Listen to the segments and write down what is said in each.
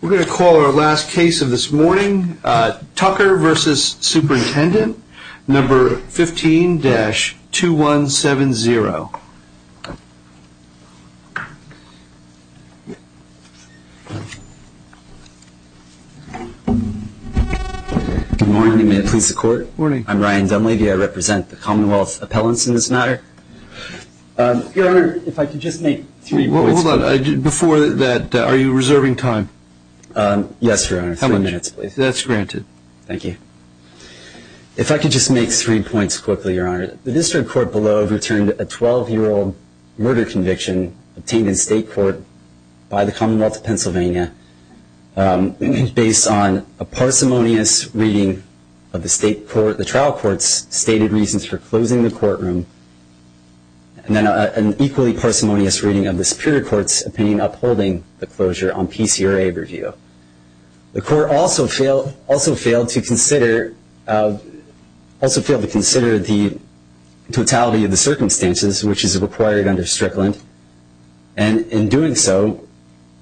We're going to call our last case of this morning, Tucker v. Superintendent, number 15-2170. Good morning. May it please the Court? Good morning. I'm Ryan Dunlavey. I represent the Commonwealth Appellants in this matter. Your Honor, if I could just make three points. Hold on. Before that, are you reserving time? Yes, Your Honor. How many minutes, please? That's granted. Thank you. If I could just make three points quickly, Your Honor. The district court below overturned a 12-year-old murder conviction obtained in state court by the Commonwealth of Pennsylvania based on a parsimonious reading of the trial court's stated reasons for closing the courtroom and an equally parsimonious reading of the Superior Court's opinion upholding the closure on PCRA review. The Court also failed to consider the totality of the circumstances which is required under Strickland and in doing so,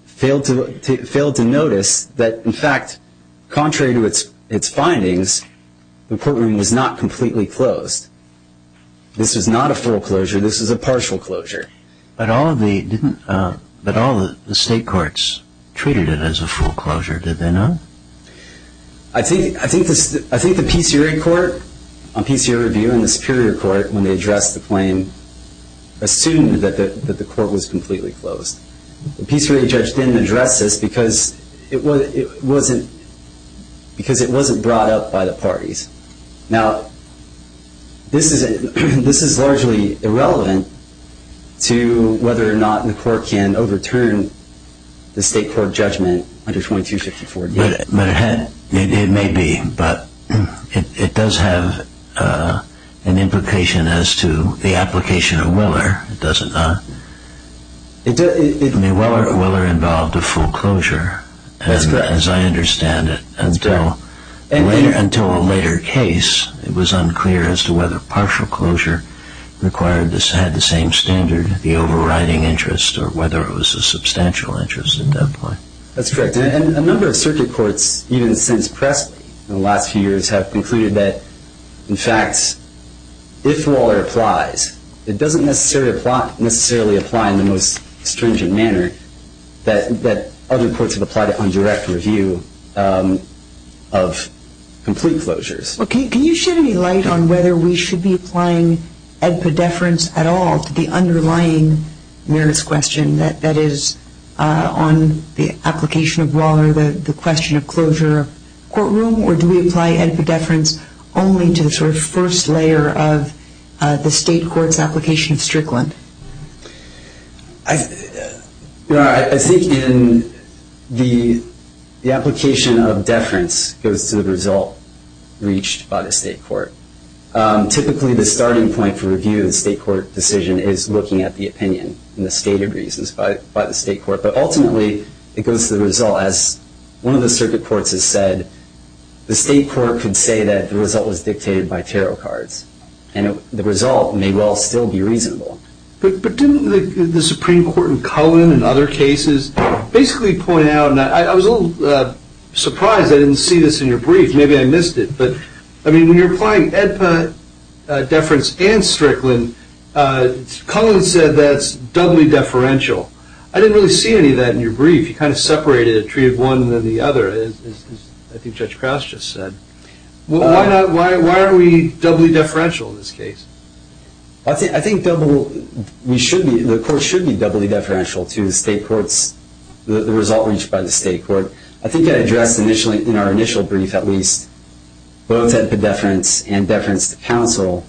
failed to notice that, in fact, contrary to its findings, the courtroom was not completely closed. This was not a full closure. This was a partial closure. But all the state courts treated it as a full closure, did they not? I think the PCRA court on PCRA review and the Superior Court, when they addressed the claim, assumed that the court was completely closed. The PCRA judge didn't address this because it wasn't brought up by the parties. Now, this is largely irrelevant to whether or not the court can overturn the state court judgment under 2254. It may be, but it does have an implication as to the application of Willer, does it not? I mean, Willer involved a full closure, as I understand it. Until a later case, it was unclear as to whether partial closure had the same standard, the overriding interest, or whether it was a substantial interest at that point. That's correct. And a number of circuit courts, even since Presley in the last few years, have concluded that, in fact, if Willer applies, it doesn't necessarily apply in the most stringent manner that other courts have applied it on direct review of complete closures. Okay. Can you shed any light on whether we should be applying Ed Poddeference at all to the underlying merits question that is on the application of Willer, the question of closure of courtroom? Or do we apply Ed Poddeference only to the sort of first layer of the state court's application of Strickland? I think in the application of deference goes to the result reached by the state court. Typically, the starting point for review of the state court decision is looking at the opinion and the stated reasons by the state court. But ultimately, it goes to the result, as one of the circuit courts has said, the state court can say that the result was dictated by tarot cards, and the result may well still be reasonable. But didn't the Supreme Court in Cullen and other cases basically point out, and I was a little surprised I didn't see this in your brief, maybe I missed it, but when you're applying Ed Poddeference and Strickland, Cullen said that's doubly deferential. I didn't really see any of that in your brief. You kind of separated a tree of one and then the other, as I think Judge Krause just said. Why are we doubly deferential in this case? I think the court should be doubly deferential to the state court's, the result reached by the state court. I think I addressed in our initial brief at least both Ed Poddeference and Deference to counsel,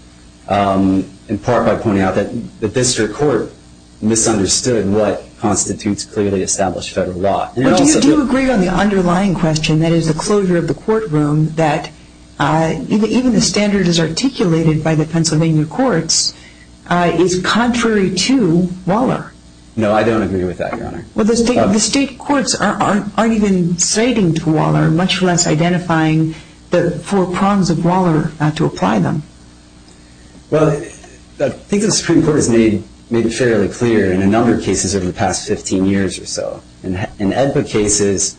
in part by pointing out that the district court misunderstood what constitutes clearly established federal law. But do you agree on the underlying question, that is the closure of the courtroom, that even the standard as articulated by the Pennsylvania courts is contrary to Waller? Well, the state courts aren't even citing Waller, much less identifying the four prongs of Waller to apply them. Well, I think the Supreme Court has made it fairly clear in a number of cases over the past 15 years or so. In Ed Poddeference cases,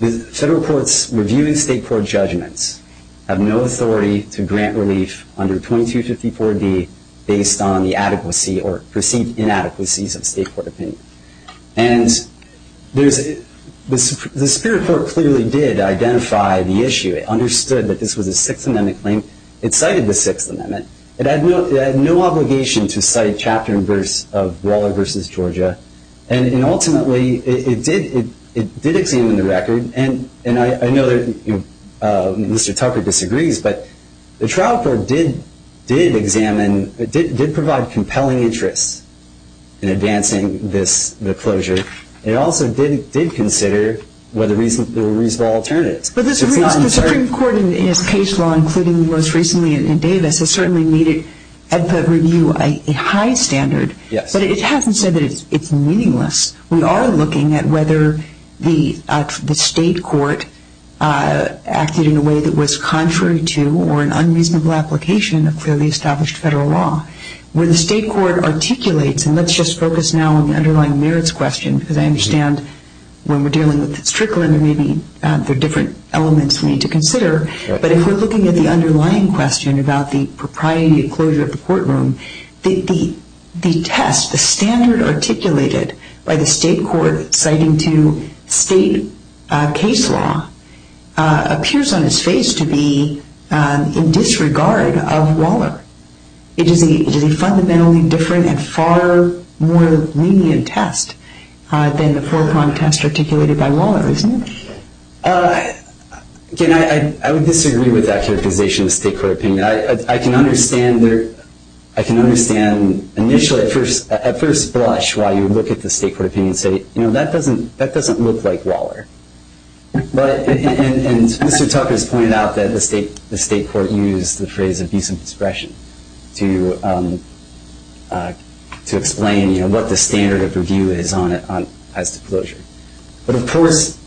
the federal courts reviewing state court judgments have no authority to grant relief under 2254D based on the adequacy or perceived inadequacies of state court opinion. And the Superior Court clearly did identify the issue. It understood that this was a Sixth Amendment claim. It cited the Sixth Amendment. It had no obligation to cite chapter and verse of Waller v. Georgia. And ultimately, it did examine the record. And I know that Mr. Tucker disagrees, but the trial court did examine, did provide compelling interests in advancing the closure. It also did consider whether there were reasonable alternatives. But the Supreme Court in its case law, including most recently in Davis, has certainly made it, at the review, a high standard. But it hasn't said that it's meaningless. We are looking at whether the state court acted in a way that was contrary to or an unreasonable application of clearly established federal law. Where the state court articulates, and let's just focus now on the underlying merits question, because I understand when we're dealing with Strickland, there may be different elements we need to consider. But if we're looking at the underlying question about the propriety of closure of the courtroom, the test, the standard articulated by the state court citing to state case law, appears on its face to be in disregard of Waller. It is a fundamentally different and far more lenient test than the four-prong test articulated by Waller, isn't it? Again, I would disagree with that characterization of the state court opinion. I can understand initially, at first blush, why you would look at the state court opinion and say, you know, that doesn't look like Waller. And Mr. Tucker has pointed out that the state court used the phrase abusive discretion to explain what the standard of review is on it as to closure. But of course,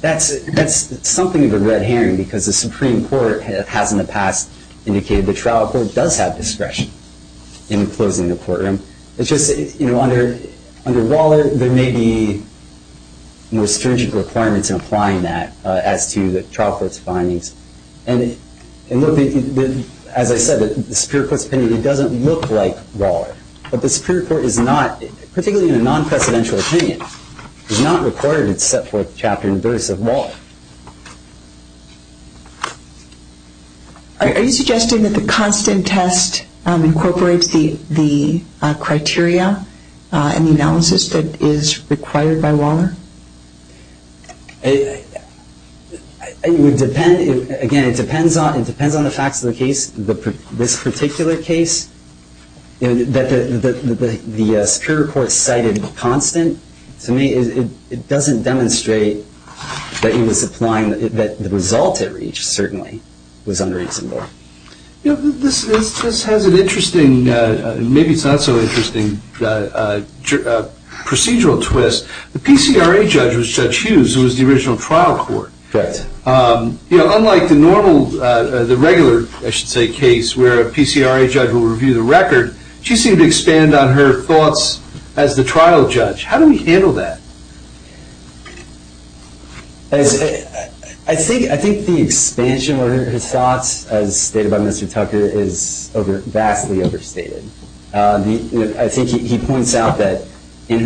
that's something of a red herring, because the Supreme Court has in the past indicated the trial court does have discretion in closing the courtroom. It's just, you know, under Waller, there may be more stringent requirements in applying that as to the trial court's findings. And as I said, the Superior Court's opinion, it doesn't look like Waller. But the Superior Court is not, particularly in a non-presidential opinion, is not required to set forth the chapter and verse of Waller. Are you suggesting that the constant test incorporates the criteria and the analysis that is required by Waller? It would depend. Again, it depends on the facts of the case. This particular case, that the Superior Court cited the constant, to me it doesn't demonstrate that the result it reached certainly was unreasonable. This has an interesting, maybe it's not so interesting, procedural twist. The PCRA judge was Judge Hughes, who was the original trial court. Correct. Unlike the normal, the regular, I should say, case where a PCRA judge will review the record, she seemed to expand on her thoughts as the trial judge. How do we handle that? I think the expansion of her thoughts, as stated by Mr. Tucker, is vastly overstated. I think he points out that in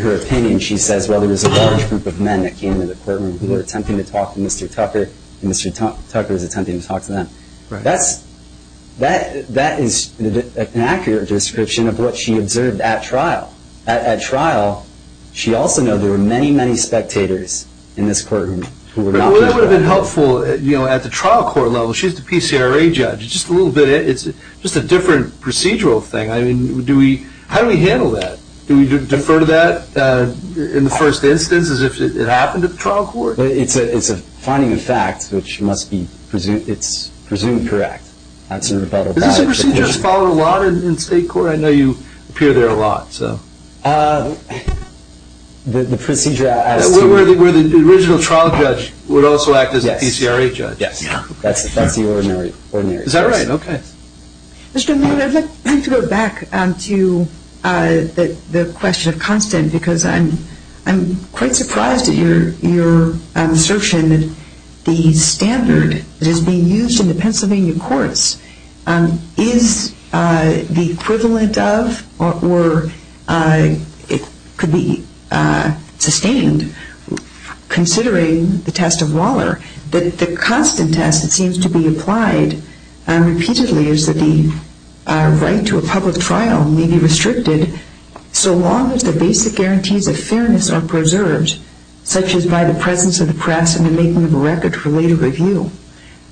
her opinion, she says, well, there was a large group of men that came into the courtroom who were attempting to talk to Mr. Tucker, and Mr. Tucker was attempting to talk to them. That is an accurate description of what she observed at trial. At trial, she also noted there were many, many spectators in this courtroom. That would have been helpful at the trial court level. She's the PCRA judge. It's just a different procedural thing. How do we handle that? Do we defer to that in the first instance as if it happened at trial court? It's a finding of fact, which must be presumed correct. Is this a procedure that's followed a lot in state court? I know you appear there a lot. The procedure as to where the original trial judge would also act as a PCRA judge. Yes. That's the ordinary. Is that right? Okay. Mr. Newman, I'd like to go back to the question of constant because I'm quite surprised at your assertion that the standard that is being used in the Pennsylvania courts is the equivalent of or it could be sustained considering the test of Waller, that the constant test that seems to be applied repeatedly is that the right to a public trial may be restricted so long as the basic guarantees of fairness are preserved, such as by the presence of the press and the making of a record for later review.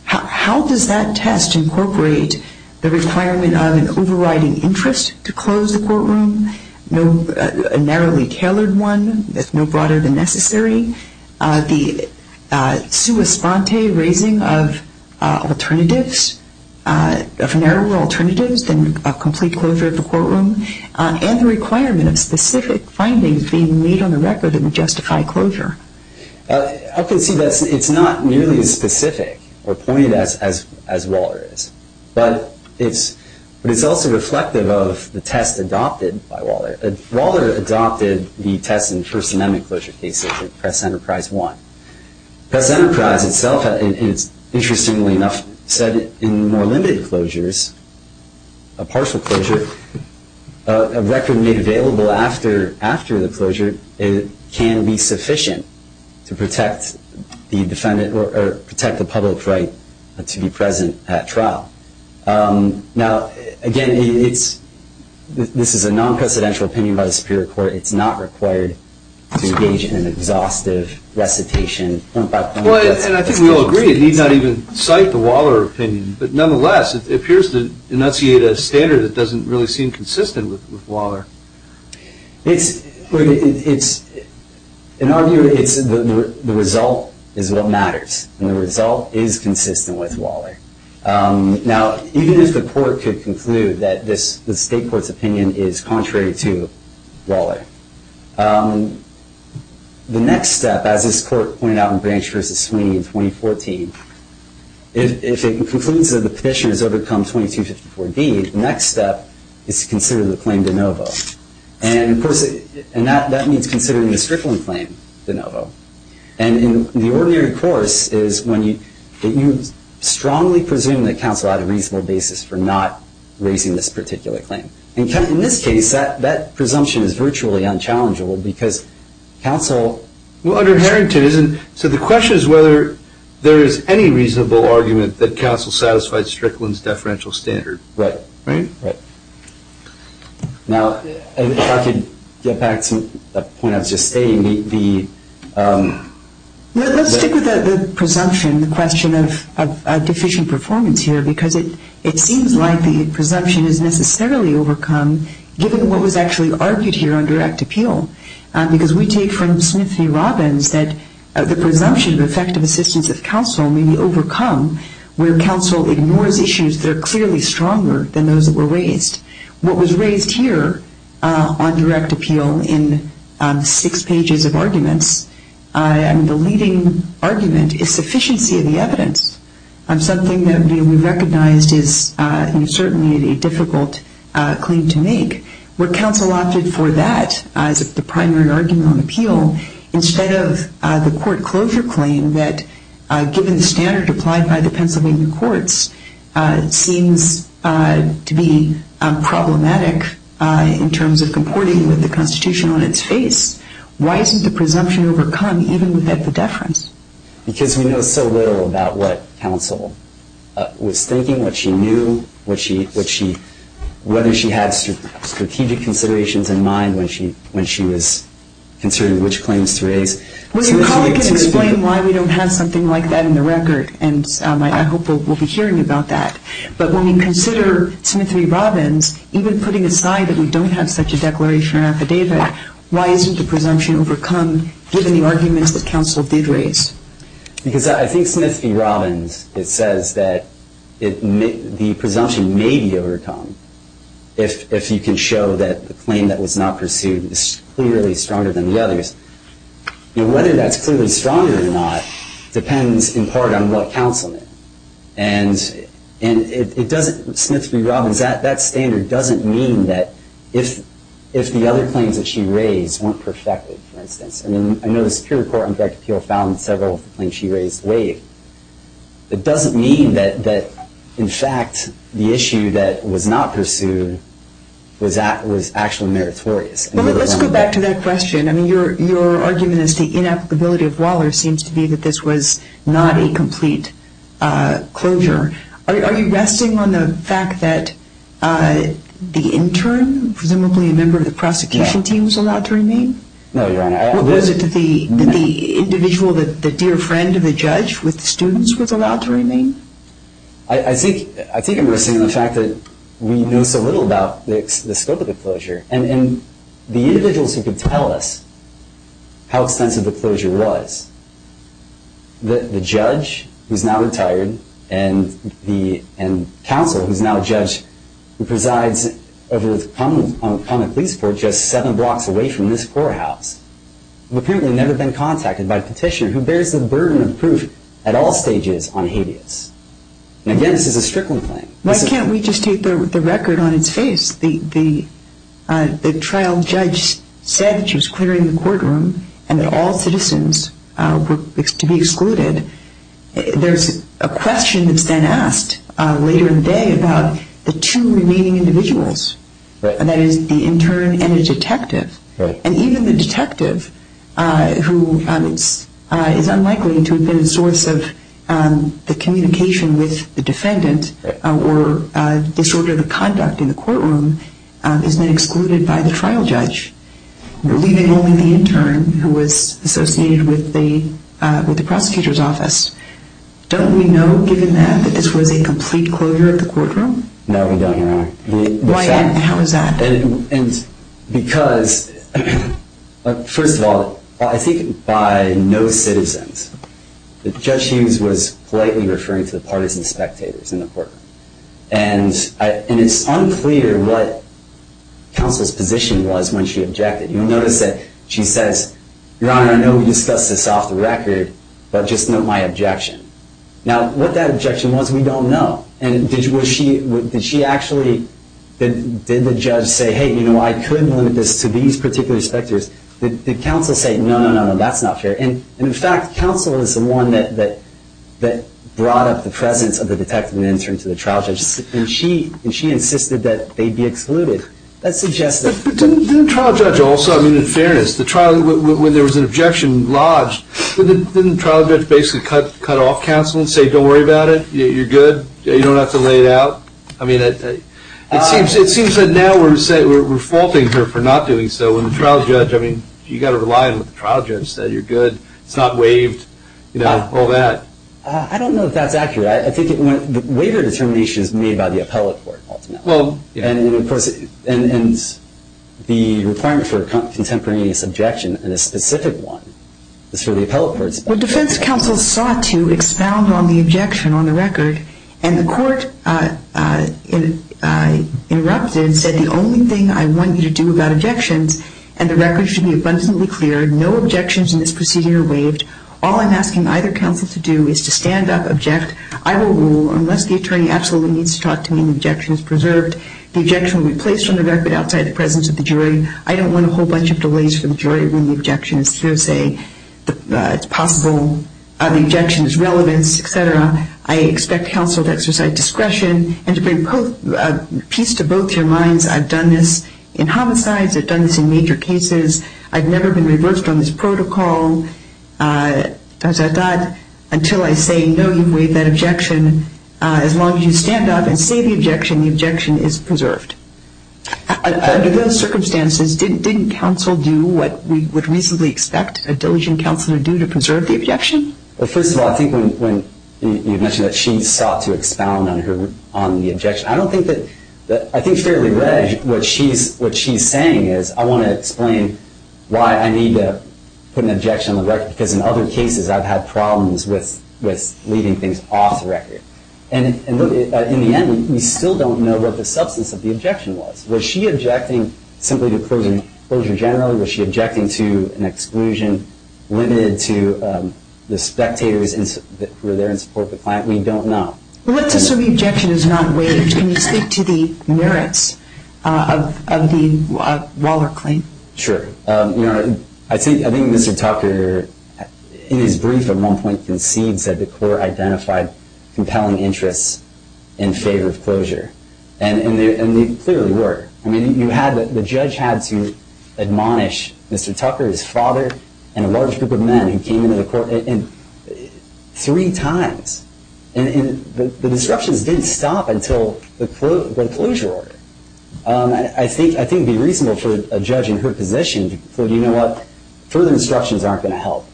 How does that test incorporate the requirement of an overriding interest to close the courtroom, a narrowly tailored one that's no broader than necessary, the sua sponte raising of alternatives, of narrower alternatives than a complete closure of the courtroom, and the requirement of specific findings being made on the record that would justify closure? I can see that it's not nearly as specific or pointed as Waller is, but it's also reflective of the test adopted by Waller. Waller adopted the test in first amendment closure cases in Press Enterprise I. Press Enterprise itself, interestingly enough, said in more limited closures, a partial closure, a record made available after the closure can be sufficient to protect the public right to be present at trial. Now, again, this is a non-presidential opinion by the Superior Court. It's not required to engage in an exhaustive recitation. And I think we all agree it need not even cite the Waller opinion, but nonetheless it appears to enunciate a standard that doesn't really seem consistent with Waller. In our view, the result is what matters, and the result is consistent with Waller. Now, even if the court could conclude that the state court's opinion is contrary to Waller, the next step, as this court pointed out in Branch v. Sweeney in 2014, if it concludes that the petitioner has overcome 2254B, the next step is to consider the claim de novo. And that means considering the Strickland claim de novo. And in the ordinary course is when you strongly presume that counsel had a reasonable basis for not raising this particular claim. And in this case, that presumption is virtually unchallengeable because counsel… Well, under Harrington, isn't… So the question is whether there is any reasonable argument that counsel satisfied Strickland's deferential standard. Right. Right? Right. Now, if I could get back to the point I was just stating, the… Well, let's stick with the presumption, the question of deficient performance here, because it seems like the presumption is necessarily overcome given what was actually argued here on direct appeal. Because we take from Smith v. Robbins that the presumption of effective assistance of counsel may be overcome where counsel ignores issues that are clearly stronger than those that were raised. What was raised here on direct appeal in six pages of arguments, the leading argument is sufficiency of the evidence, something that we recognized is certainly a difficult claim to make. Where counsel opted for that as the primary argument on appeal instead of the court closure claim that, given the standard applied by the Pennsylvania courts, seems to be problematic in terms of comporting with the Constitution on its face. Why isn't the presumption overcome even with the deference? Because we know so little about what counsel was thinking, what she knew, whether she had strategic considerations in mind when she was considering which claims to raise. Well, your colleague can explain why we don't have something like that in the record, and I hope we'll be hearing about that. But when we consider Smith v. Robbins, even putting aside that we don't have such a declaration or affidavit, why isn't the presumption overcome given the arguments that counsel did raise? Because I think Smith v. Robbins, it says that the presumption may be overcome if you can show that the claim that was not pursued is clearly stronger than the others. Whether that's clearly stronger or not depends in part on what counsel meant. And Smith v. Robbins, that standard doesn't mean that if the other claims that she raised weren't perfected, for instance. I mean, I know the Superior Court on Direct Appeal found several of the claims she raised waived. It doesn't mean that, in fact, the issue that was not pursued was actually meritorious. Let's go back to that question. I mean, your argument is the inapplicability of Waller seems to be that this was not a complete closure. Are you resting on the fact that the intern, presumably a member of the prosecution team, was allowed to remain? No, Your Honor. Was it the individual, the dear friend of the judge with the students, was allowed to remain? I think I'm resting on the fact that we know so little about the scope of the closure. And the individuals who could tell us how extensive the closure was, the judge, who's now retired, and counsel, who's now a judge, who presides over the Common Pleas Court just seven blocks away from this courthouse, have apparently never been contacted by a petitioner who bears the burden of proof at all stages on habeas. And again, this is a Strickland claim. Why can't we just take the record on its face? The trial judge said that she was clearing the courtroom and that all citizens were to be excluded. There's a question that's then asked later in the day about the two remaining individuals, and that is the intern and the detective. And even the detective, who is unlikely to have been a source of the communication with the defendant or disorder of conduct in the courtroom, has been excluded by the trial judge, leaving only the intern, who was associated with the prosecutor's office. Don't we know, given that, that this was a complete closure of the courtroom? No, we don't, Your Honor. Why not? How is that? Because, first of all, I think by no citizens, Judge Hughes was politely referring to the partisan spectators in the courtroom. And it's unclear what counsel's position was when she objected. You'll notice that she says, Your Honor, I know we discussed this off the record, but just note my objection. Now, what that objection was, we don't know. And did she actually, did the judge say, Hey, you know, I could limit this to these particular spectators. Did counsel say, No, no, no, no, that's not fair. And, in fact, counsel is the one that brought up the presence of the detective and the intern to the trial judge. And she insisted that they be excluded. But didn't the trial judge also, I mean, in fairness, when there was an objection lodged, didn't the trial judge basically cut off counsel and say, Don't worry about it, you're good, you don't have to lay it out? I mean, it seems that now we're faulting her for not doing so. And the trial judge, I mean, you've got to rely on what the trial judge said. You're good, it's not waived, you know, all that. I don't know if that's accurate. I think the waiver determination is made by the appellate court, ultimately. And, of course, the requirement for a contemporaneous objection, and a specific one, is for the appellate courts. Well, defense counsel sought to expound on the objection on the record, and the court interrupted and said, The only thing I want you to do about objections, and the record should be abundantly clear, no objections in this procedure are waived. All I'm asking either counsel to do is to stand up, object. I will rule unless the attorney absolutely needs to talk to me and the objection is preserved. The objection will be placed on the record outside the presence of the jury. I don't want a whole bunch of delays for the jury when the objection is through, say, it's possible the objection is relevant, et cetera. I expect counsel to exercise discretion, and to bring peace to both your minds. I've done this in homicides. I've done this in major cases. I've never been reversed on this protocol, until I say, No, you've waived that objection. As long as you stand up and say the objection, the objection is preserved. Under those circumstances, didn't counsel do what we would reasonably expect a diligent counselor to do to preserve the objection? Well, first of all, I think when you mentioned that she sought to expound on the objection, I think fairly readily what she's saying is, I want to explain why I need to put an objection on the record, because in other cases I've had problems with leaving things off the record. And in the end, we still don't know what the substance of the objection was. Was she objecting simply to closure generally? Was she objecting to an exclusion limited to the spectators who were there in support of the client? We don't know. Well, let's assume the objection is not waived. Can you speak to the merits of the Waller claim? Sure. I think Mr. Tucker, in his brief at one point, concedes that the court identified compelling interests in favor of closure. And they clearly were. I mean, the judge had to admonish Mr. Tucker, his father, and a large group of men who came into the court three times. And the disruptions didn't stop until the closure order. I think it would be reasonable for a judge in her position to say, you know what, further disruptions aren't going to help.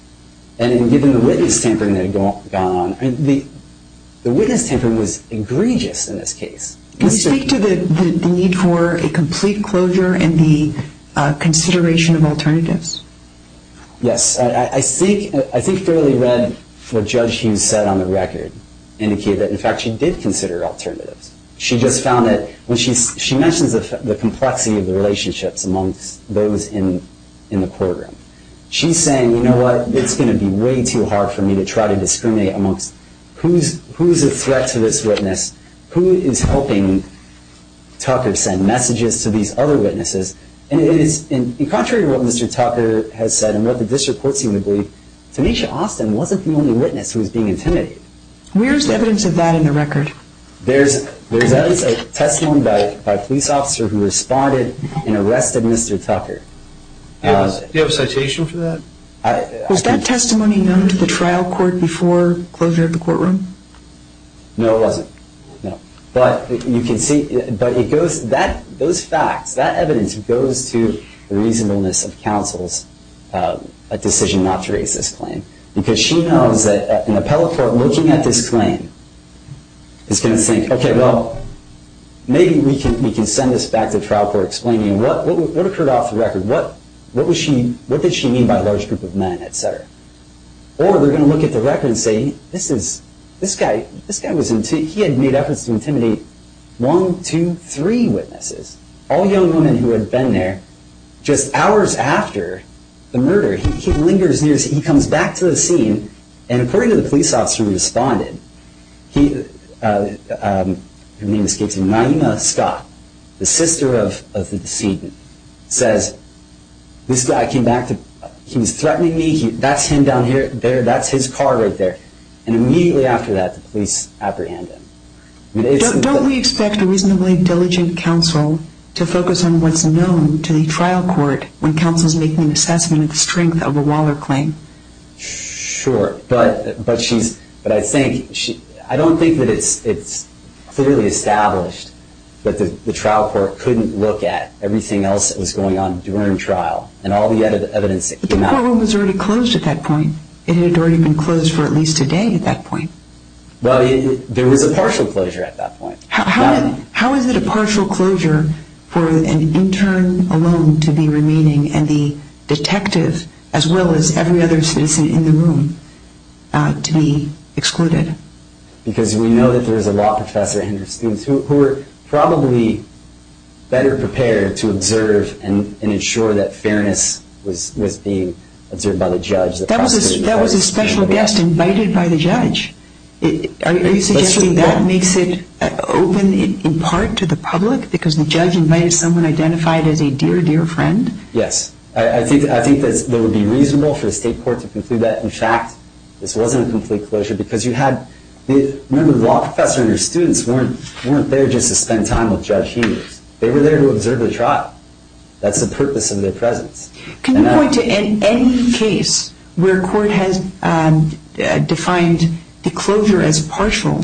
And given the witness tampering that had gone on, the witness tampering was egregious in this case. Can you speak to the need for a complete closure and the consideration of alternatives? Yes. I think Fairley read what Judge Hughes said on the record, indicated that, in fact, she did consider alternatives. She just found that when she mentions the complexity of the relationships amongst those in the courtroom, she's saying, you know what, it's going to be way too hard for me to try to discriminate amongst Who's a threat to this witness? Who is helping Tucker send messages to these other witnesses? And contrary to what Mr. Tucker has said and what the district courts seem to believe, Tanisha Austin wasn't the only witness who was being intimidated. Where's the evidence of that in the record? There's evidence of testimony by a police officer who responded and arrested Mr. Tucker. Do you have a citation for that? Was that testimony known to the trial court before closure of the courtroom? No, it wasn't. But you can see, those facts, that evidence goes to the reasonableness of counsel's decision not to raise this claim. Because she knows that an appellate court looking at this claim is going to think, okay, well, maybe we can send this back to trial court explaining what occurred off the record. What did she mean by a large group of men, et cetera? Or they're going to look at the record and say, this guy, he had made efforts to intimidate one, two, three witnesses. All young women who had been there, just hours after the murder, he lingers near, he comes back to the scene, and according to the police officer who responded, her name escapes me, Naima Scott, the sister of the decedent, says, this guy came back, he was threatening me, that's him down there, that's his car right there. And immediately after that, the police apprehended him. Don't we expect a reasonably diligent counsel to focus on what's known to the trial court when counsel's making an assessment of the strength of a Waller claim? Sure, but I don't think that it's clearly established that the trial court couldn't look at everything else that was going on during trial and all the evidence that came out. But the courtroom was already closed at that point. It had already been closed for at least a day at that point. Well, there was a partial closure at that point. How is it a partial closure for an intern alone to be remaining, and the detective, as well as every other citizen in the room, to be excluded? Because we know that there's a lot of professors and students who were probably better prepared to observe and ensure that fairness was being observed by the judge. Are you suggesting that makes it open in part to the public because the judge invited someone identified as a dear, dear friend? Yes. I think that it would be reasonable for the state court to conclude that, in fact, this wasn't a complete closure because you had the law professor and her students weren't there just to spend time with Judge Hughes. They were there to observe the trial. That's the purpose of their presence. Can you point to any case where court has defined the closure as partial,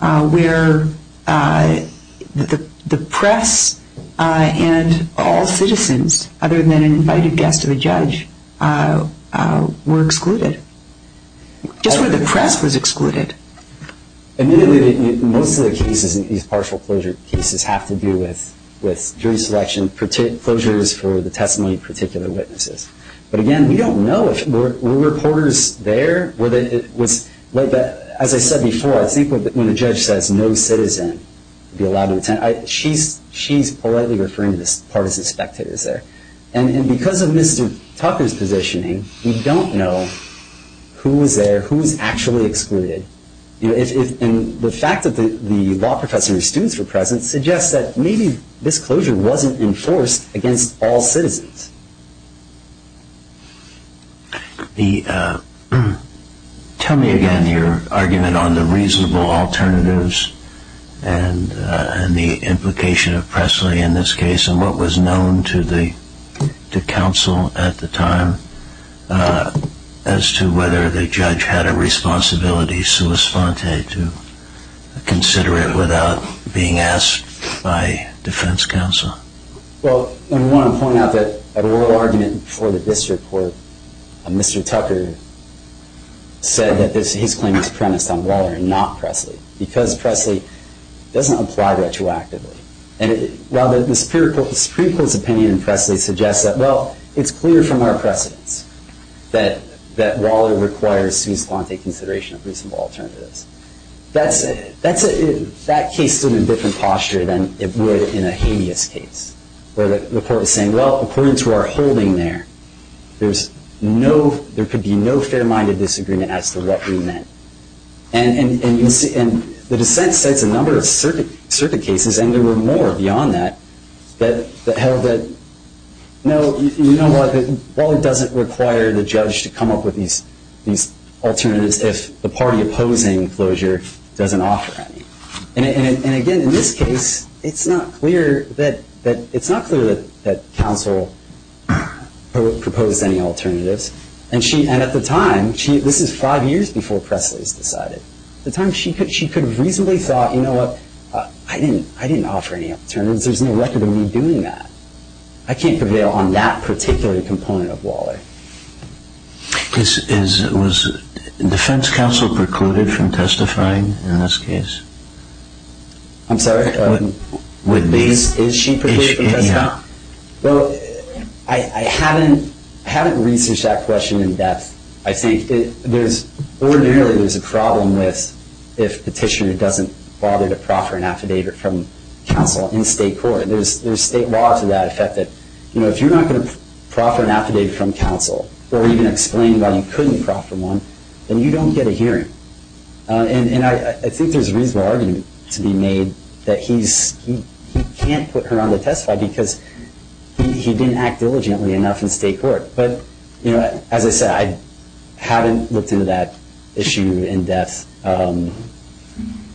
where the press and all citizens, other than an invited guest of a judge, were excluded? Just where the press was excluded. Admittedly, most of the cases in these partial closure cases have to do with jury selection. Closures for the testimony of particular witnesses. But, again, we don't know if there were reporters there. As I said before, I think when a judge says no citizen would be allowed to attend, she's politely referring to the partisan spectators there. And because of Mr. Tucker's positioning, we don't know who was there, who was actually excluded. And the fact that the law professor and her students were present suggests that maybe this closure wasn't enforced against all citizens. Tell me again your argument on the reasonable alternatives and the implication of Presley in this case and what was known to counsel at the time as to whether the judge had a responsibility sua sponte to consider it without being asked by defense counsel? Well, I want to point out that a royal argument before the district court, Mr. Tucker said that his claim was premised on Waller and not Presley because Presley doesn't apply retroactively. And while the Supreme Court's opinion in Presley suggests that, well, it's clear from our precedence that Waller requires sua sponte consideration of reasonable alternatives, that case stood in a different posture than it would in a habeas case where the court was saying, well, according to our holding there, there could be no fair-minded disagreement as to what we meant. And the dissent sets a number of circuit cases, and there were more beyond that, that held that, no, you know what? Waller doesn't require the judge to come up with these alternatives if the party opposing closure doesn't offer any. And again, in this case, it's not clear that counsel proposed any alternatives. And at the time, this is five years before Presley's decided, at the time she could have reasonably thought, you know what? I didn't offer any alternatives. There's no record of me doing that. I can't prevail on that particular component of Waller. Was defense counsel precluded from testifying in this case? I'm sorry? With base? Is she precluded from testifying? Well, I haven't researched that question in depth. I think ordinarily there's a problem with if the petitioner doesn't bother to proffer an affidavit from counsel in state court. There's state law to that effect that, you know, if you're not going to proffer an affidavit from counsel or even explain why you couldn't proffer one, then you don't get a hearing. And I think there's a reasonable argument to be made that he can't put her on to testify because he didn't act diligently enough in state court. But, you know, as I said, I haven't looked into that issue in depth.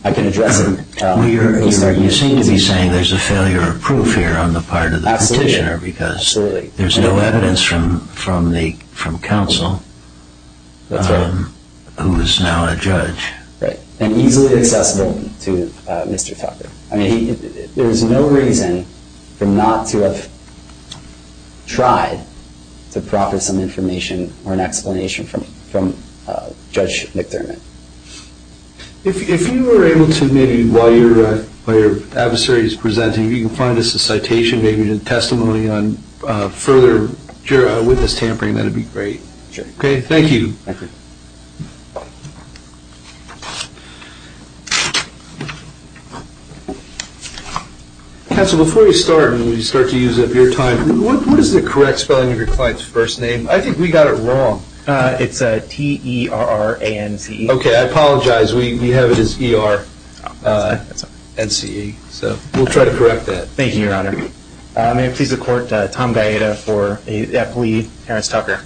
I can address it. You seem to be saying there's a failure of proof here on the part of the petitioner because there's no evidence from counsel who is now a judge. Right, and easily accessible to Mr. Tucker. I mean, there is no reason for not to have tried to proffer some information or an explanation from Judge McDermott. If you were able to maybe while your adversary is presenting, if you can find us a citation, maybe a testimony on further witness tampering, that would be great. Sure. Okay, thank you. Thank you. Counsel, before we start and we start to use up your time, what is the correct spelling of your client's first name? I think we got it wrong. It's T-E-R-R-A-N-C-E. Okay, I apologize. We have it as E-R-N-C-E. So we'll try to correct that. Thank you, Your Honor. May it please the Court, Tom Gaeta for F. Lee, Terrence Tucker.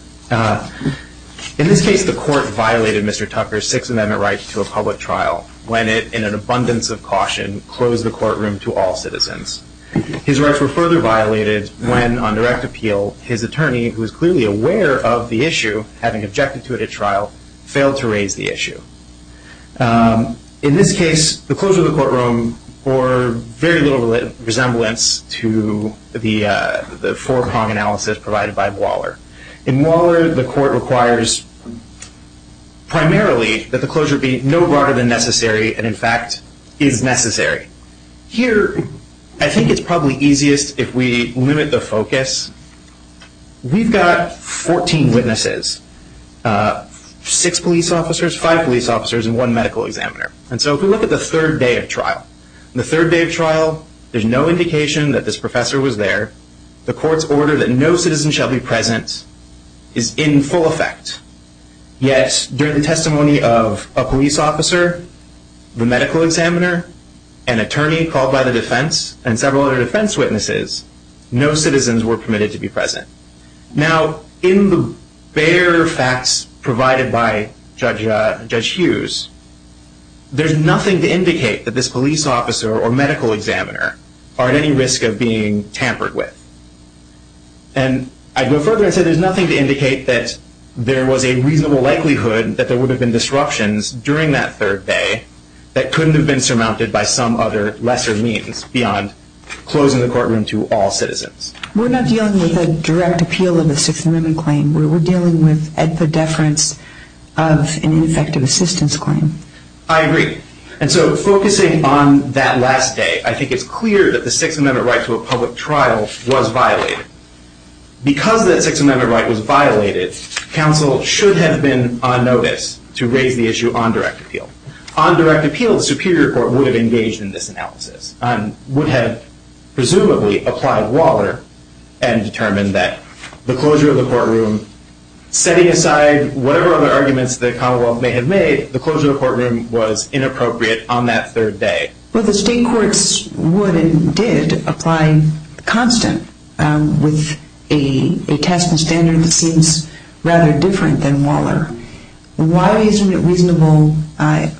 In this case, the Court violated Mr. Tucker's Sixth Amendment right to a public trial when it, in an abundance of caution, closed the courtroom to all citizens. His rights were further violated when, on direct appeal, his attorney, who was clearly aware of the issue, having objected to it at trial, failed to raise the issue. In this case, the closure of the courtroom bore very little resemblance to the four-prong analysis provided by Waller. In Waller, the Court requires primarily that the closure be no broader than necessary and, in fact, is necessary. Here, I think it's probably easiest if we limit the focus. We've got 14 witnesses, six police officers, five police officers, and one medical examiner. And so if we look at the third day of trial, in the third day of trial there's no indication that this professor was there. The Court's order that no citizen shall be present is in full effect. Yet, during the testimony of a police officer, the medical examiner, an attorney called by the defense, and several other defense witnesses, no citizens were permitted to be present. Now, in the bare facts provided by Judge Hughes, there's nothing to indicate that this police officer or medical examiner are at any risk of being tampered with. And I'd go further and say there's nothing to indicate that there was a reasonable likelihood that there would have been disruptions during that third day that couldn't have been surmounted by some other lesser means beyond closing the courtroom to all citizens. We're not dealing with a direct appeal of a Sixth Amendment claim. We're dealing with a deference of an effective assistance claim. I agree. And so focusing on that last day, I think it's clear that the Sixth Amendment right to a public trial was violated. Because that Sixth Amendment right was violated, counsel should have been on notice to raise the issue on direct appeal. On direct appeal, the Superior Court would have engaged in this analysis and would have presumably applied Waller and determined that the closure of the courtroom, setting aside whatever other arguments the Commonwealth may have made, the closure of the courtroom was inappropriate on that third day. Well, the state courts would and did apply Constant with a test and standard that seems rather different than Waller. Why isn't it reasonable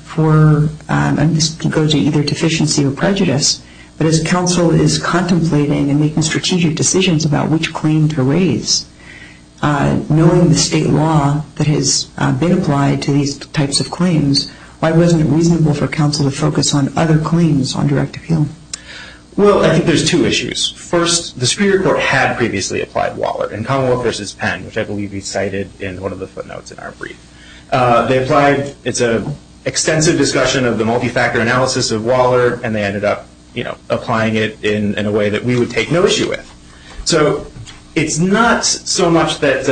for, and this goes to either deficiency or prejudice, but as counsel is contemplating and making strategic decisions about which claim to raise, knowing the state law that has been applied to these types of claims, why wasn't it reasonable for counsel to focus on other claims on direct appeal? Well, I think there's two issues. First, the Superior Court had previously applied Waller in Commonwealth v. Penn, which I believe we cited in one of the footnotes in our brief. They applied. It's an extensive discussion of the multi-factor analysis of Waller, and they ended up applying it in a way that we would take no issue with. So it's not so much that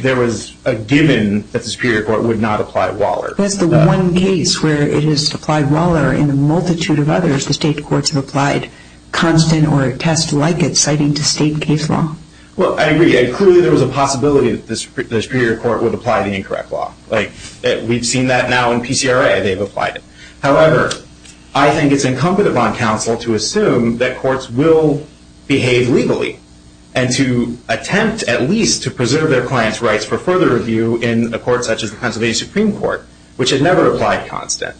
there was a given that the Superior Court would not apply Waller. That's the one case where it is applied Waller in a multitude of others. The state courts have applied Constant or a test like it, citing the state case law. Well, I agree. Clearly there was a possibility that the Superior Court would apply the incorrect law. We've seen that now in PCRA. They've applied it. However, I think it's incumbent upon counsel to assume that courts will behave legally and to attempt at least to preserve their clients' rights for further review in a court such as the Pennsylvania Supreme Court, which had never applied Constant,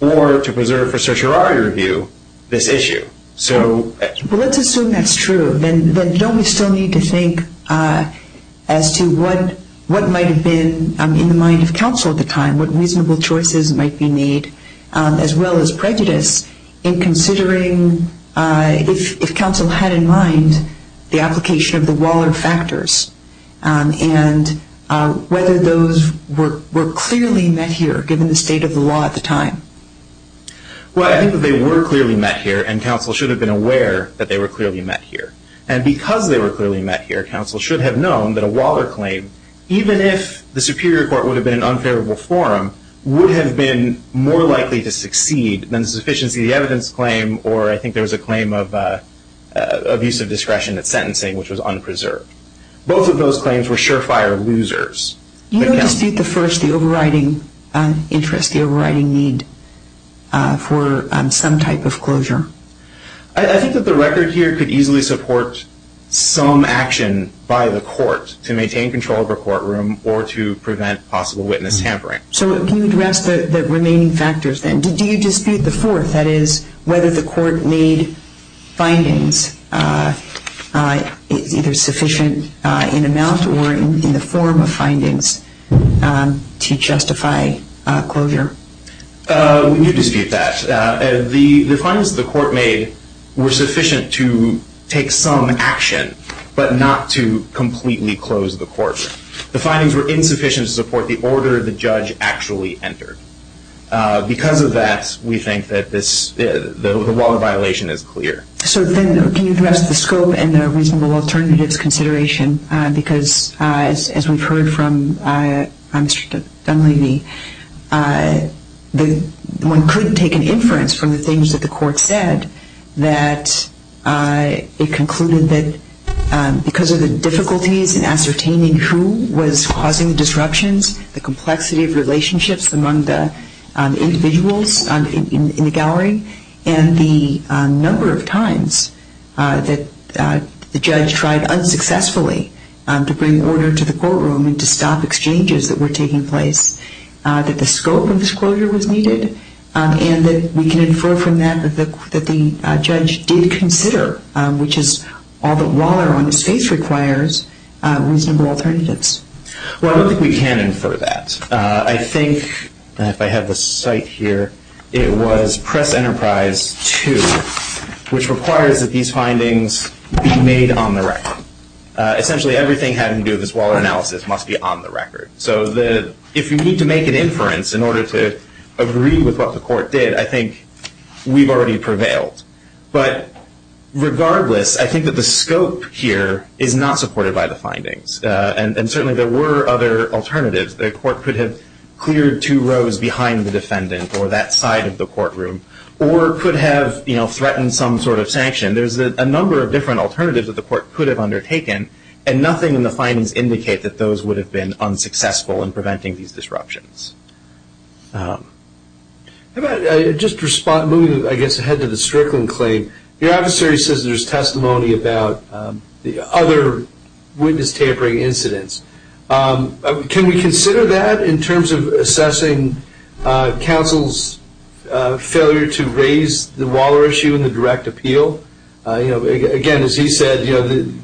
or to preserve for certiorari review this issue. Well, let's assume that's true. Then don't we still need to think as to what might have been in the mind of counsel at the time, and what reasonable choices might be made, as well as prejudice, in considering if counsel had in mind the application of the Waller factors and whether those were clearly met here given the state of the law at the time? Well, I think that they were clearly met here, and counsel should have been aware that they were clearly met here. And because they were clearly met here, counsel should have known that a Waller claim, even if the Superior Court would have been an unfavorable forum, would have been more likely to succeed than the sufficiency of the evidence claim or I think there was a claim of abuse of discretion at sentencing, which was unpreserved. Both of those claims were surefire losers. You don't dispute the first, the overriding interest, the overriding need for some type of closure? I think that the record here could easily support some action by the court to maintain control of a courtroom or to prevent possible witness tampering. So can you address the remaining factors then? Do you dispute the fourth, that is, whether the court made findings either sufficient in amount or in the form of findings to justify closure? We do dispute that. The findings the court made were sufficient to take some action, but not to completely close the court. The findings were insufficient to support the order the judge actually entered. Because of that, we think that the Waller violation is clear. So then can you address the scope and the reasonable alternatives consideration? As we've heard from Mr. Dunleavy, one couldn't take an inference from the things that the court said that it concluded that because of the difficulties in ascertaining who was causing the disruptions, the complexity of relationships among the individuals in the gallery, and the number of times that the judge tried unsuccessfully to bring order to the courtroom and to stop exchanges that were taking place, that the scope of this closure was needed, and that we can infer from that that the judge did consider, which is all that Waller on his face requires, reasonable alternatives. Well, I don't think we can infer that. I think, if I have the cite here, it was Press Enterprise 2, which requires that these findings be made on the record. Essentially everything having to do with this Waller analysis must be on the record. So if you need to make an inference in order to agree with what the court did, I think we've already prevailed. But regardless, I think that the scope here is not supported by the findings. And certainly there were other alternatives. The court could have cleared two rows behind the defendant or that side of the courtroom, or could have threatened some sort of sanction. There's a number of different alternatives that the court could have undertaken, and nothing in the findings indicate that those would have been unsuccessful in preventing these disruptions. Just moving, I guess, ahead to the Strickland claim, your adversary says there's testimony about the other witness tampering incidents. Can we consider that in terms of assessing counsel's failure to raise the Waller issue in the direct appeal? Again, as he said,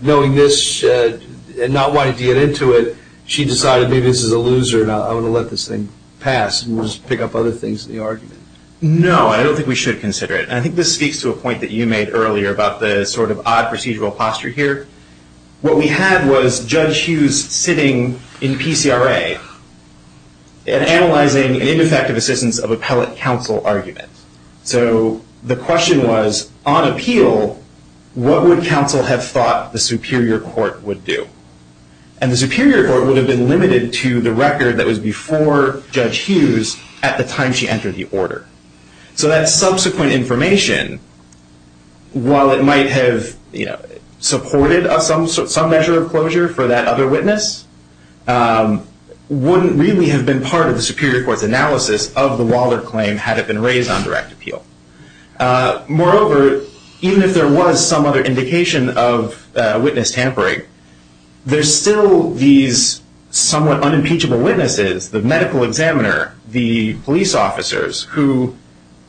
knowing this and not wanting to get into it, she decided maybe this is a loser and I want to let this thing pass and just pick up other things in the argument. No, I don't think we should consider it. And I think this speaks to a point that you made earlier about the sort of odd procedural posture here. What we had was Judge Hughes sitting in PCRA and analyzing an ineffective assistance of appellate counsel argument. So the question was, on appeal, what would counsel have thought the superior court would do? And the superior court would have been limited to the record that was before Judge Hughes at the time she entered the order. So that subsequent information, while it might have supported some measure of closure for that other witness, wouldn't really have been part of the superior court's analysis of the Waller claim had it been raised on direct appeal. Moreover, even if there was some other indication of witness tampering, there's still these somewhat unimpeachable witnesses, the medical examiner, the police officers, who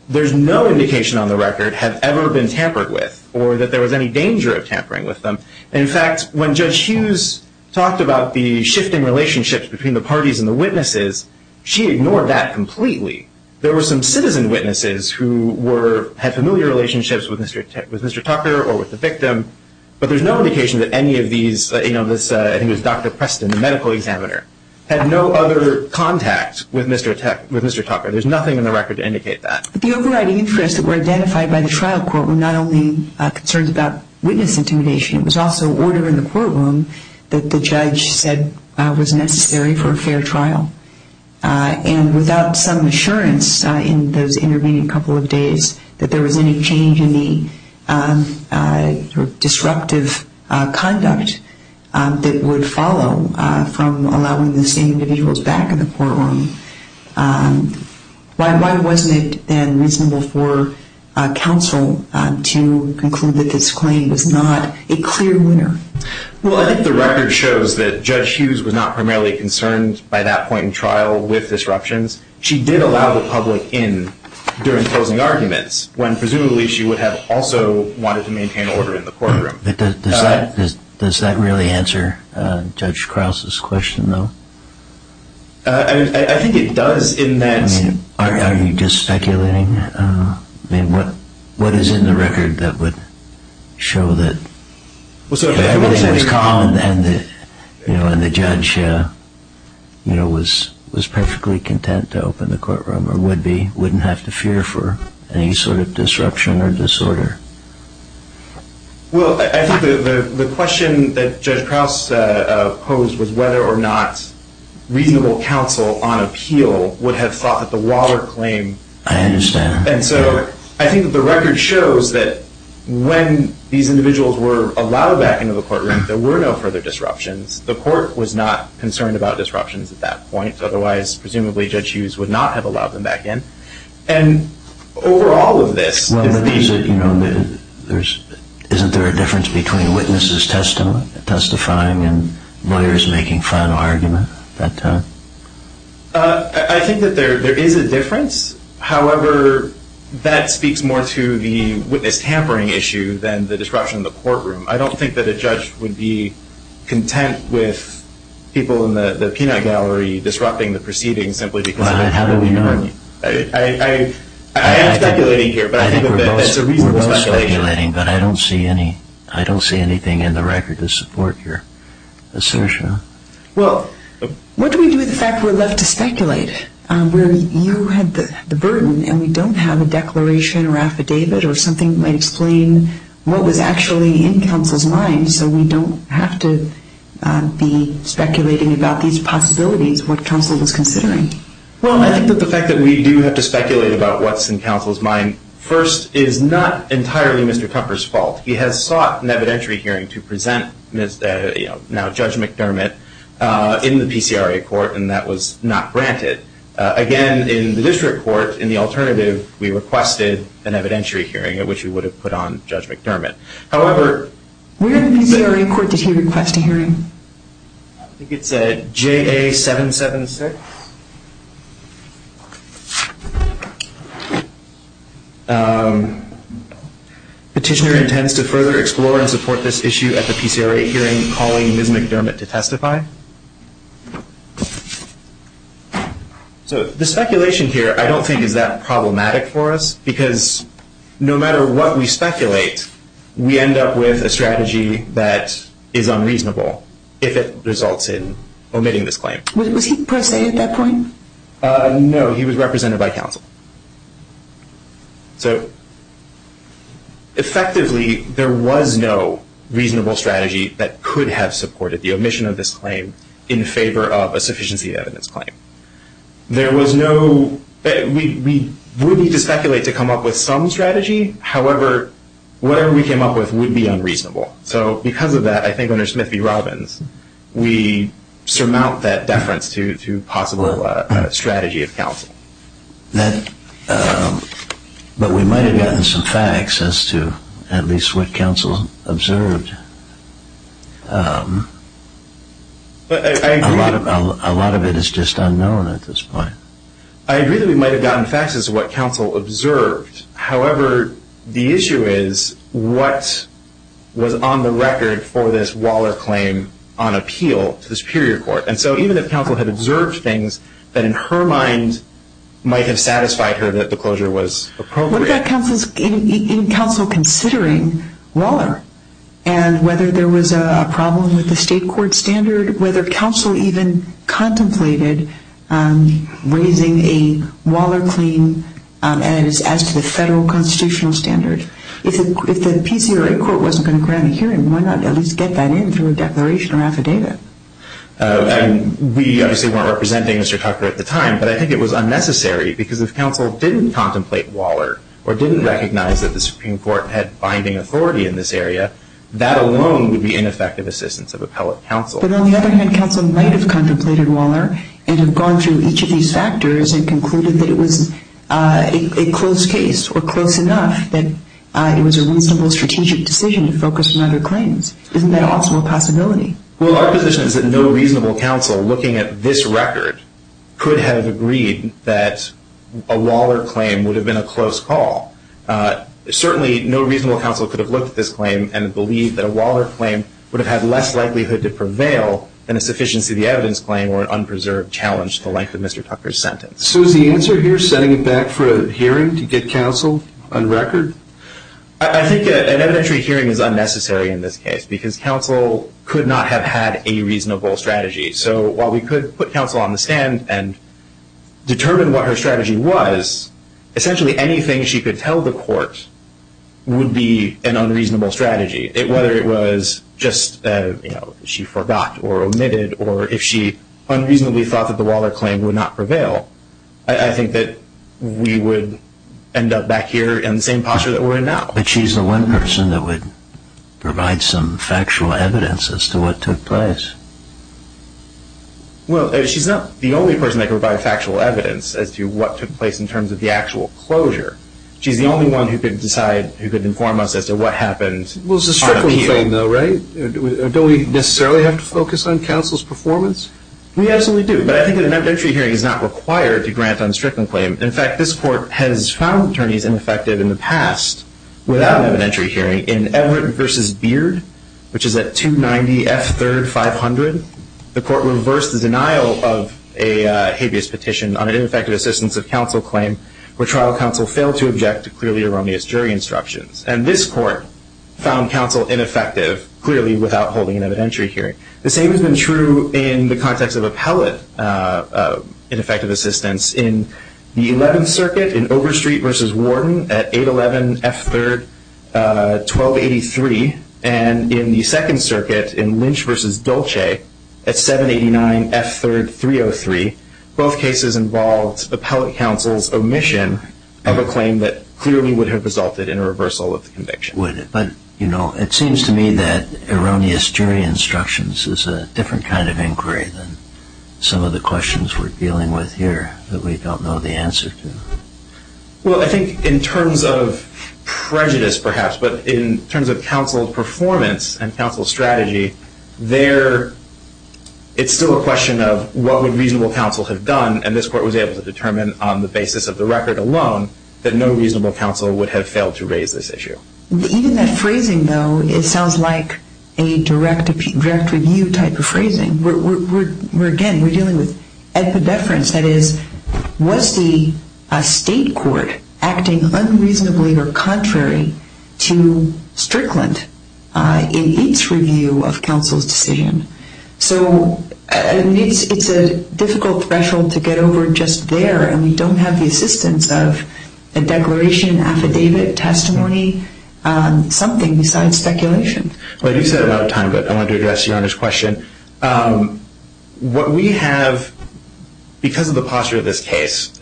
there's no indication on the record have ever been tampered with or that there was any danger of tampering with them. In fact, when Judge Hughes talked about the shifting relationships between the parties and the witnesses, she ignored that completely. There were some citizen witnesses who had familiar relationships with Mr. Tucker or with the victim, but there's no indication that any of these, I think it was Dr. Preston, the medical examiner, had no other contact with Mr. Tucker. There's nothing in the record to indicate that. The overriding interests that were identified by the trial court were not only concerns about witness intimidation. It was also order in the courtroom that the judge said was necessary for a fair trial. And without some assurance in those intervening couple of days that there was any change in the disruptive conduct that would follow from allowing the same individuals back in the courtroom, why wasn't it then reasonable for counsel to conclude that this claim was not a clear winner? Well, I think the record shows that Judge Hughes was not primarily concerned by that point in trial with disruptions. She did allow the public in during closing arguments, when presumably she would have also wanted to maintain order in the courtroom. Does that really answer Judge Krause's question, though? I think it does in that... I mean, are you just speculating? I mean, what is in the record that would show that everything was calm and the judge was perfectly content to open the courtroom or would be, wouldn't have to fear for any sort of disruption or disorder? Well, I think the question that Judge Krause posed was whether or not reasonable counsel on appeal would have thought that the Waller claim... I understand. And so I think that the record shows that when these individuals were allowed back into the courtroom, there were no further disruptions. The court was not concerned about disruptions at that point. Otherwise, presumably, Judge Hughes would not have allowed them back in. And over all of this... Isn't there a difference between witnesses testifying and lawyers making final argument at that time? I think that there is a difference. However, that speaks more to the witness tampering issue than the disruption in the courtroom. I don't think that a judge would be content with people in the Pinot Gallery disrupting the proceedings simply because... Well, how do we know? I am speculating here, but I think that that's a reasonable speculation. We're both speculating, but I don't see anything in the record to support your assertion. Well, what do we do with the fact we're left to speculate? Where you had the burden and we don't have a declaration or affidavit or something that might explain what was actually in counsel's mind and so we don't have to be speculating about these possibilities, what counsel is considering. Well, I think that the fact that we do have to speculate about what's in counsel's mind, first, is not entirely Mr. Kupfer's fault. He has sought an evidentiary hearing to present now Judge McDermott in the PCRA court, and that was not granted. Again, in the district court, in the alternative, we requested an evidentiary hearing at which we would have put on Judge McDermott. However... Where in the PCRA court did he request a hearing? I think it said JA-776. Petitioner intends to further explore and support this issue at the PCRA hearing, calling Ms. McDermott to testify. So the speculation here I don't think is that problematic for us, because no matter what we speculate, we end up with a strategy that is unreasonable if it results in omitting this claim. Was he presented at that point? No, he was represented by counsel. So, effectively, there was no reasonable strategy that could have supported the omission of this claim in favor of a sufficiency evidence claim. There was no... We would need to speculate to come up with some strategy. However, whatever we came up with would be unreasonable. So because of that, I think under Smith v. Robbins, we surmount that deference to possible strategy of counsel. But we might have gotten some facts as to at least what counsel observed. A lot of it is just unknown at this point. I agree that we might have gotten facts as to what counsel observed. However, the issue is what was on the record for this Waller claim on appeal to the Superior Court. And so even if counsel had observed things, that in her mind might have satisfied her that the closure was appropriate. But what about counsel considering Waller and whether there was a problem with the state court standard, whether counsel even contemplated raising a Waller claim as to the federal constitutional standard? If the PCRA court wasn't going to grant a hearing, why not at least get that in through a declaration or affidavit? We obviously weren't representing Mr. Tucker at the time, but I think it was unnecessary because if counsel didn't contemplate Waller or didn't recognize that the Supreme Court had binding authority in this area, that alone would be ineffective assistance of appellate counsel. But on the other hand, counsel might have contemplated Waller and have gone through each of these factors and concluded that it was a close case or close enough that it was a reasonable strategic decision to focus on other claims. Isn't that also a possibility? Well, our position is that no reasonable counsel looking at this record could have agreed that a Waller claim would have been a close call. Certainly no reasonable counsel could have looked at this claim and believed that a Waller claim would have had less likelihood to prevail than a sufficiency of the evidence claim or an unpreserved challenge to the length of Mr. Tucker's sentence. So is the answer here setting it back for a hearing to get counsel on record? I think an evidentiary hearing is unnecessary in this case because counsel could not have had a reasonable strategy. So while we could put counsel on the stand and determine what her strategy was, essentially anything she could tell the court would be an unreasonable strategy. Whether it was just she forgot or omitted or if she unreasonably thought that the Waller claim would not prevail, I think that we would end up back here in the same posture that we're in now. But she's the one person that would provide some factual evidence as to what took place. Well, she's not the only person that could provide factual evidence as to what took place in terms of the actual closure. She's the only one who could decide, who could inform us as to what happened on appeal. Well, it's a Strickland claim though, right? Don't we necessarily have to focus on counsel's performance? We absolutely do. But I think an evidentiary hearing is not required to grant on a Strickland claim. In fact, this court has found attorneys ineffective in the past without an evidentiary hearing. In Everett v. Beard, which is at 290 F. 3rd, 500, the court reversed the denial of a habeas petition on an ineffective assistance of counsel claim where trial counsel failed to object to clearly erroneous jury instructions. And this court found counsel ineffective clearly without holding an evidentiary hearing. The same has been true in the context of appellate ineffective assistance. In the 11th Circuit in Overstreet v. Warden at 811 F. 3rd, 1283, and in the 2nd Circuit in Lynch v. Dolce at 789 F. 3rd, 303, both cases involved appellate counsel's omission of a claim that clearly would have resulted in a reversal of the conviction. It seems to me that erroneous jury instructions is a different kind of inquiry than some of the questions we're dealing with here that we don't know the answer to. Well, I think in terms of prejudice, perhaps, but in terms of counsel's performance and counsel's strategy, it's still a question of what would reasonable counsel have done, and this court was able to determine on the basis of the record alone that no reasonable counsel would have failed to raise this issue. Even that phrasing, though, it sounds like a direct review type of phrasing. Again, we're dealing with epideference. That is, was the state court acting unreasonably or contrary to Strickland in its review of counsel's decision? So it's a difficult threshold to get over just there, and we don't have the assistance of a declaration, affidavit, testimony, something besides speculation. Well, you said it out of time, but I wanted to address Your Honor's question. What we have, because of the posture of this case,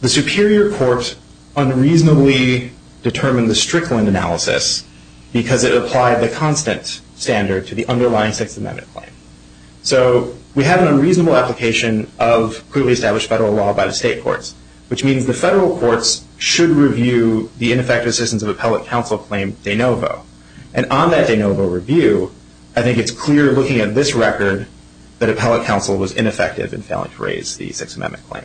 the superior court unreasonably determined the Strickland analysis because it applied the constant standard to the underlying Sixth Amendment claim. So we have an unreasonable application of clearly established federal law by the state courts, which means the federal courts should review the ineffective assistance of appellate counsel claim de novo. And on that de novo review, I think it's clear looking at this record that appellate counsel was ineffective in failing to raise the Sixth Amendment claim.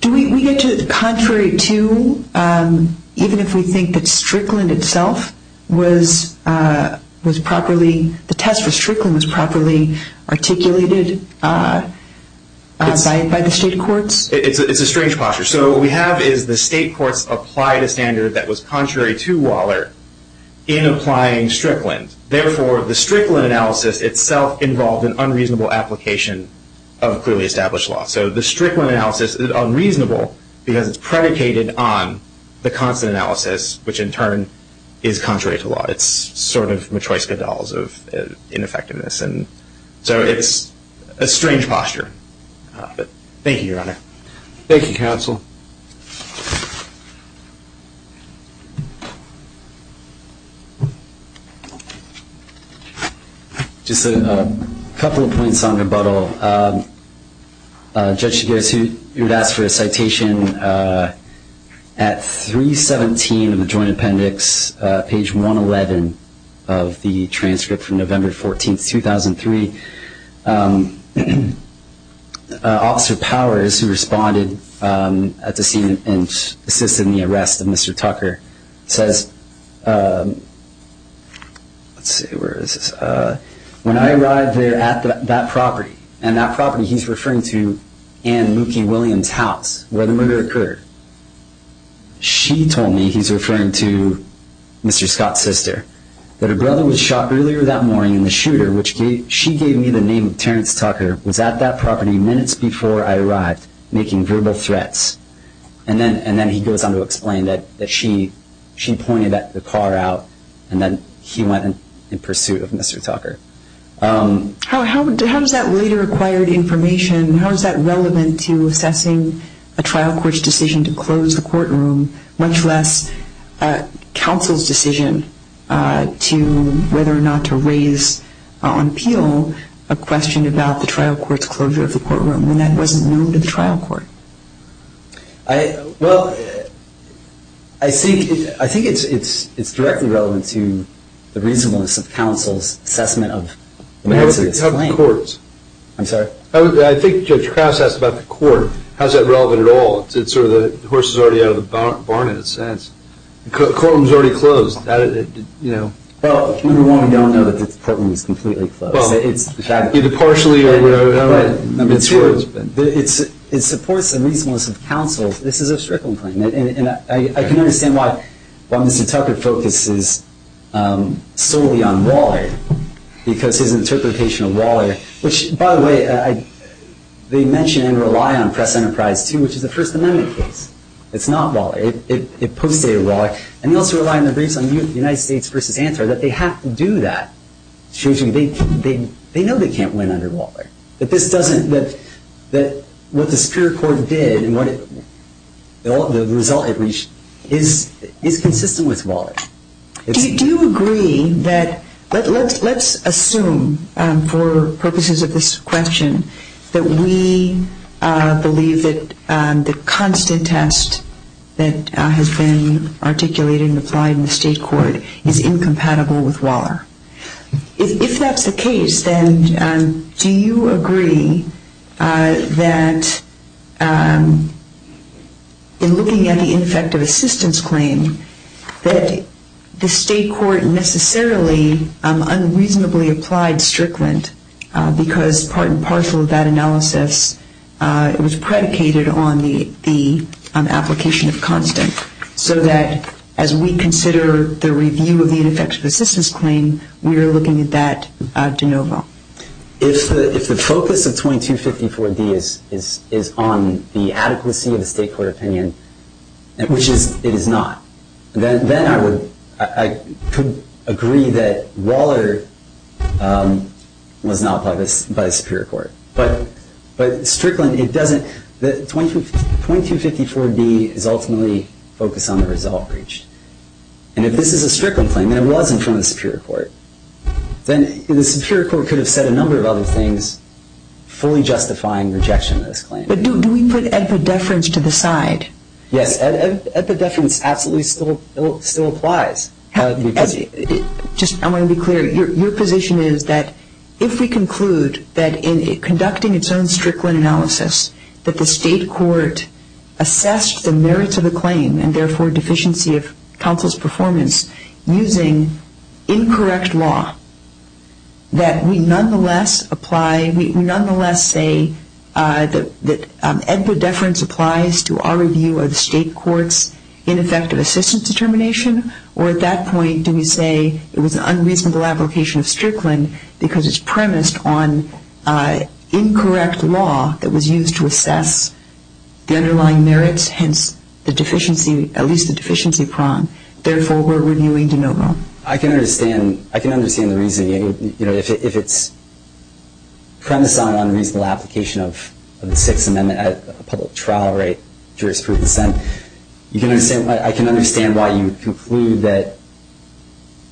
Do we get to contrary to, even if we think that Strickland itself was properly, the test for Strickland was properly articulated by the state courts? It's a strange posture. So what we have is the state courts applied a standard that was contrary to Waller in applying Strickland. Therefore, the Strickland analysis itself involved an unreasonable application of clearly established law. So the Strickland analysis is unreasonable because it's predicated on the constant analysis, which in turn is contrary to law. It's sort of Matryoshka dolls of ineffectiveness. So it's a strange posture. But thank you, Your Honor. Thank you, counsel. Just a couple of points on rebuttal. Judge Chigurhs, who had asked for a citation, at 317 of the joint appendix, page 111 of the transcript from November 14, 2003, Officer Powers, who responded at the scene and assisted in the arrest of Mr. Tucker, says, let's see, where is this? When I arrived there at that property, and that property he's referring to Ann Mookie Williams' house where the murder occurred, she told me, he's referring to Mr. Scott's sister, that her brother was shot earlier that morning in the shooter, which she gave me the name of Terrence Tucker, was at that property minutes before I arrived, making verbal threats. And then he goes on to explain that she pointed the car out and then he went in pursuit of Mr. Tucker. How does that later acquired information, how is that relevant to assessing a trial court's decision to close the courtroom, much less counsel's decision whether or not to raise on appeal a question about the trial court's closure of the courtroom when that wasn't known to the trial court? Well, I think it's directly relevant to the reasonableness of counsel's assessment of the merits of this claim. I'm sorry? I think Judge Krause asked about the court. How is that relevant at all? It's sort of the horse is already out of the barn in a sense. The courtroom is already closed. Well, number one, we don't know that the courtroom is completely closed. Either partially or whatever. Number two, it supports the reasonableness of counsel. This is a strickland claim. And I can understand why Mr. Tucker focuses solely on Waller because his interpretation of Waller, which, by the way, they mention and rely on Press Enterprise, too, which is a First Amendment case. It's not Waller. It postdated Waller. And they also rely on the briefs on the United States v. Antwerp that they have to do that. They know they can't win under Waller. What the Superior Court did and the result it reached is consistent with Waller. Do you agree that let's assume for purposes of this question that we believe that the constant test that has been articulated and applied in the state court is incompatible with Waller? If that's the case, then do you agree that in looking at the ineffective assistance claim that the state court necessarily unreasonably applied strickland because part and parcel of that analysis was predicated on the application of constant so that as we consider the review of the ineffective assistance claim, we are looking at that de novo? If the focus of 2254D is on the adequacy of the state court opinion, which it is not, then I could agree that Waller was not applied by the Superior Court. But strickland, it doesn't. 2254D is ultimately focused on the result reached. And if this is a strickland claim and it wasn't from the Superior Court, then the Superior Court could have said a number of other things fully justifying rejection of this claim. But do we put epidefference to the side? Yes, epidefference absolutely still applies. Just I want to be clear. Your position is that if we conclude that in conducting its own strickland analysis that the state court assessed the merits of the claim and therefore deficiency of counsel's performance using incorrect law, that we nonetheless apply, we nonetheless say that epidefference applies to our review of the state court's ineffective assistance determination? Or at that point do we say it was an unreasonable application of strickland because it's premised on incorrect law that was used to assess the underlying merits, hence the deficiency, at least the deficiency prong, therefore we're reviewing de novo? I can understand the reasoning. If it's premised on an unreasonable application of the Sixth Amendment at a public trial rate jurisprudence, then I can understand why you conclude that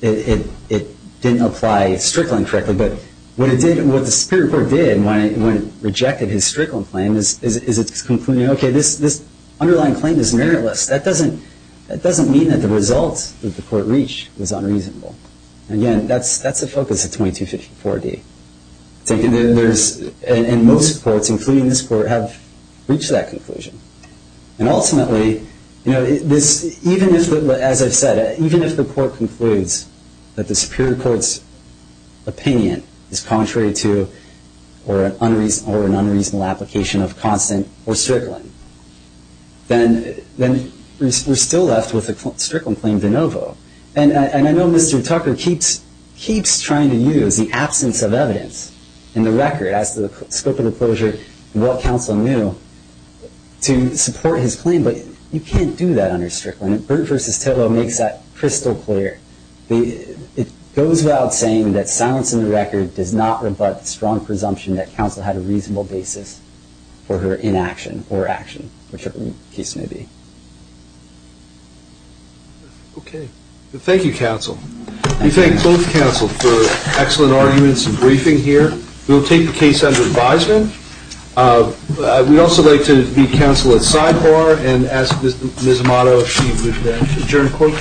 it didn't apply strickland correctly. But what the Superior Court did when it rejected his strickland claim is it's concluding, okay, this underlying claim is meritless. That doesn't mean that the result that the court reached was unreasonable. Again, that's the focus of 2254D. And most courts, including this court, have reached that conclusion. And ultimately, even if, as I've said, even if the court concludes that the Superior Court's opinion is contrary to or an unreasonable application of constant or strickland, then we're still left with a strickland claim de novo. And I know Mr. Tucker keeps trying to use the absence of evidence in the record as to the scope of the closure and what counsel knew to support his claim, but you can't do that under strickland. Burt v. Tillow makes that crystal clear. It goes without saying that silence in the record does not rebut the strong presumption that counsel had a reasonable basis for her inaction or action, whichever the case may be. Okay. Thank you, counsel. We thank both counsel for excellent arguments and briefing here. We'll take the case under advisement. We'd also like to meet counsel at sidebar and ask Ms. Amato if she would adjourn court.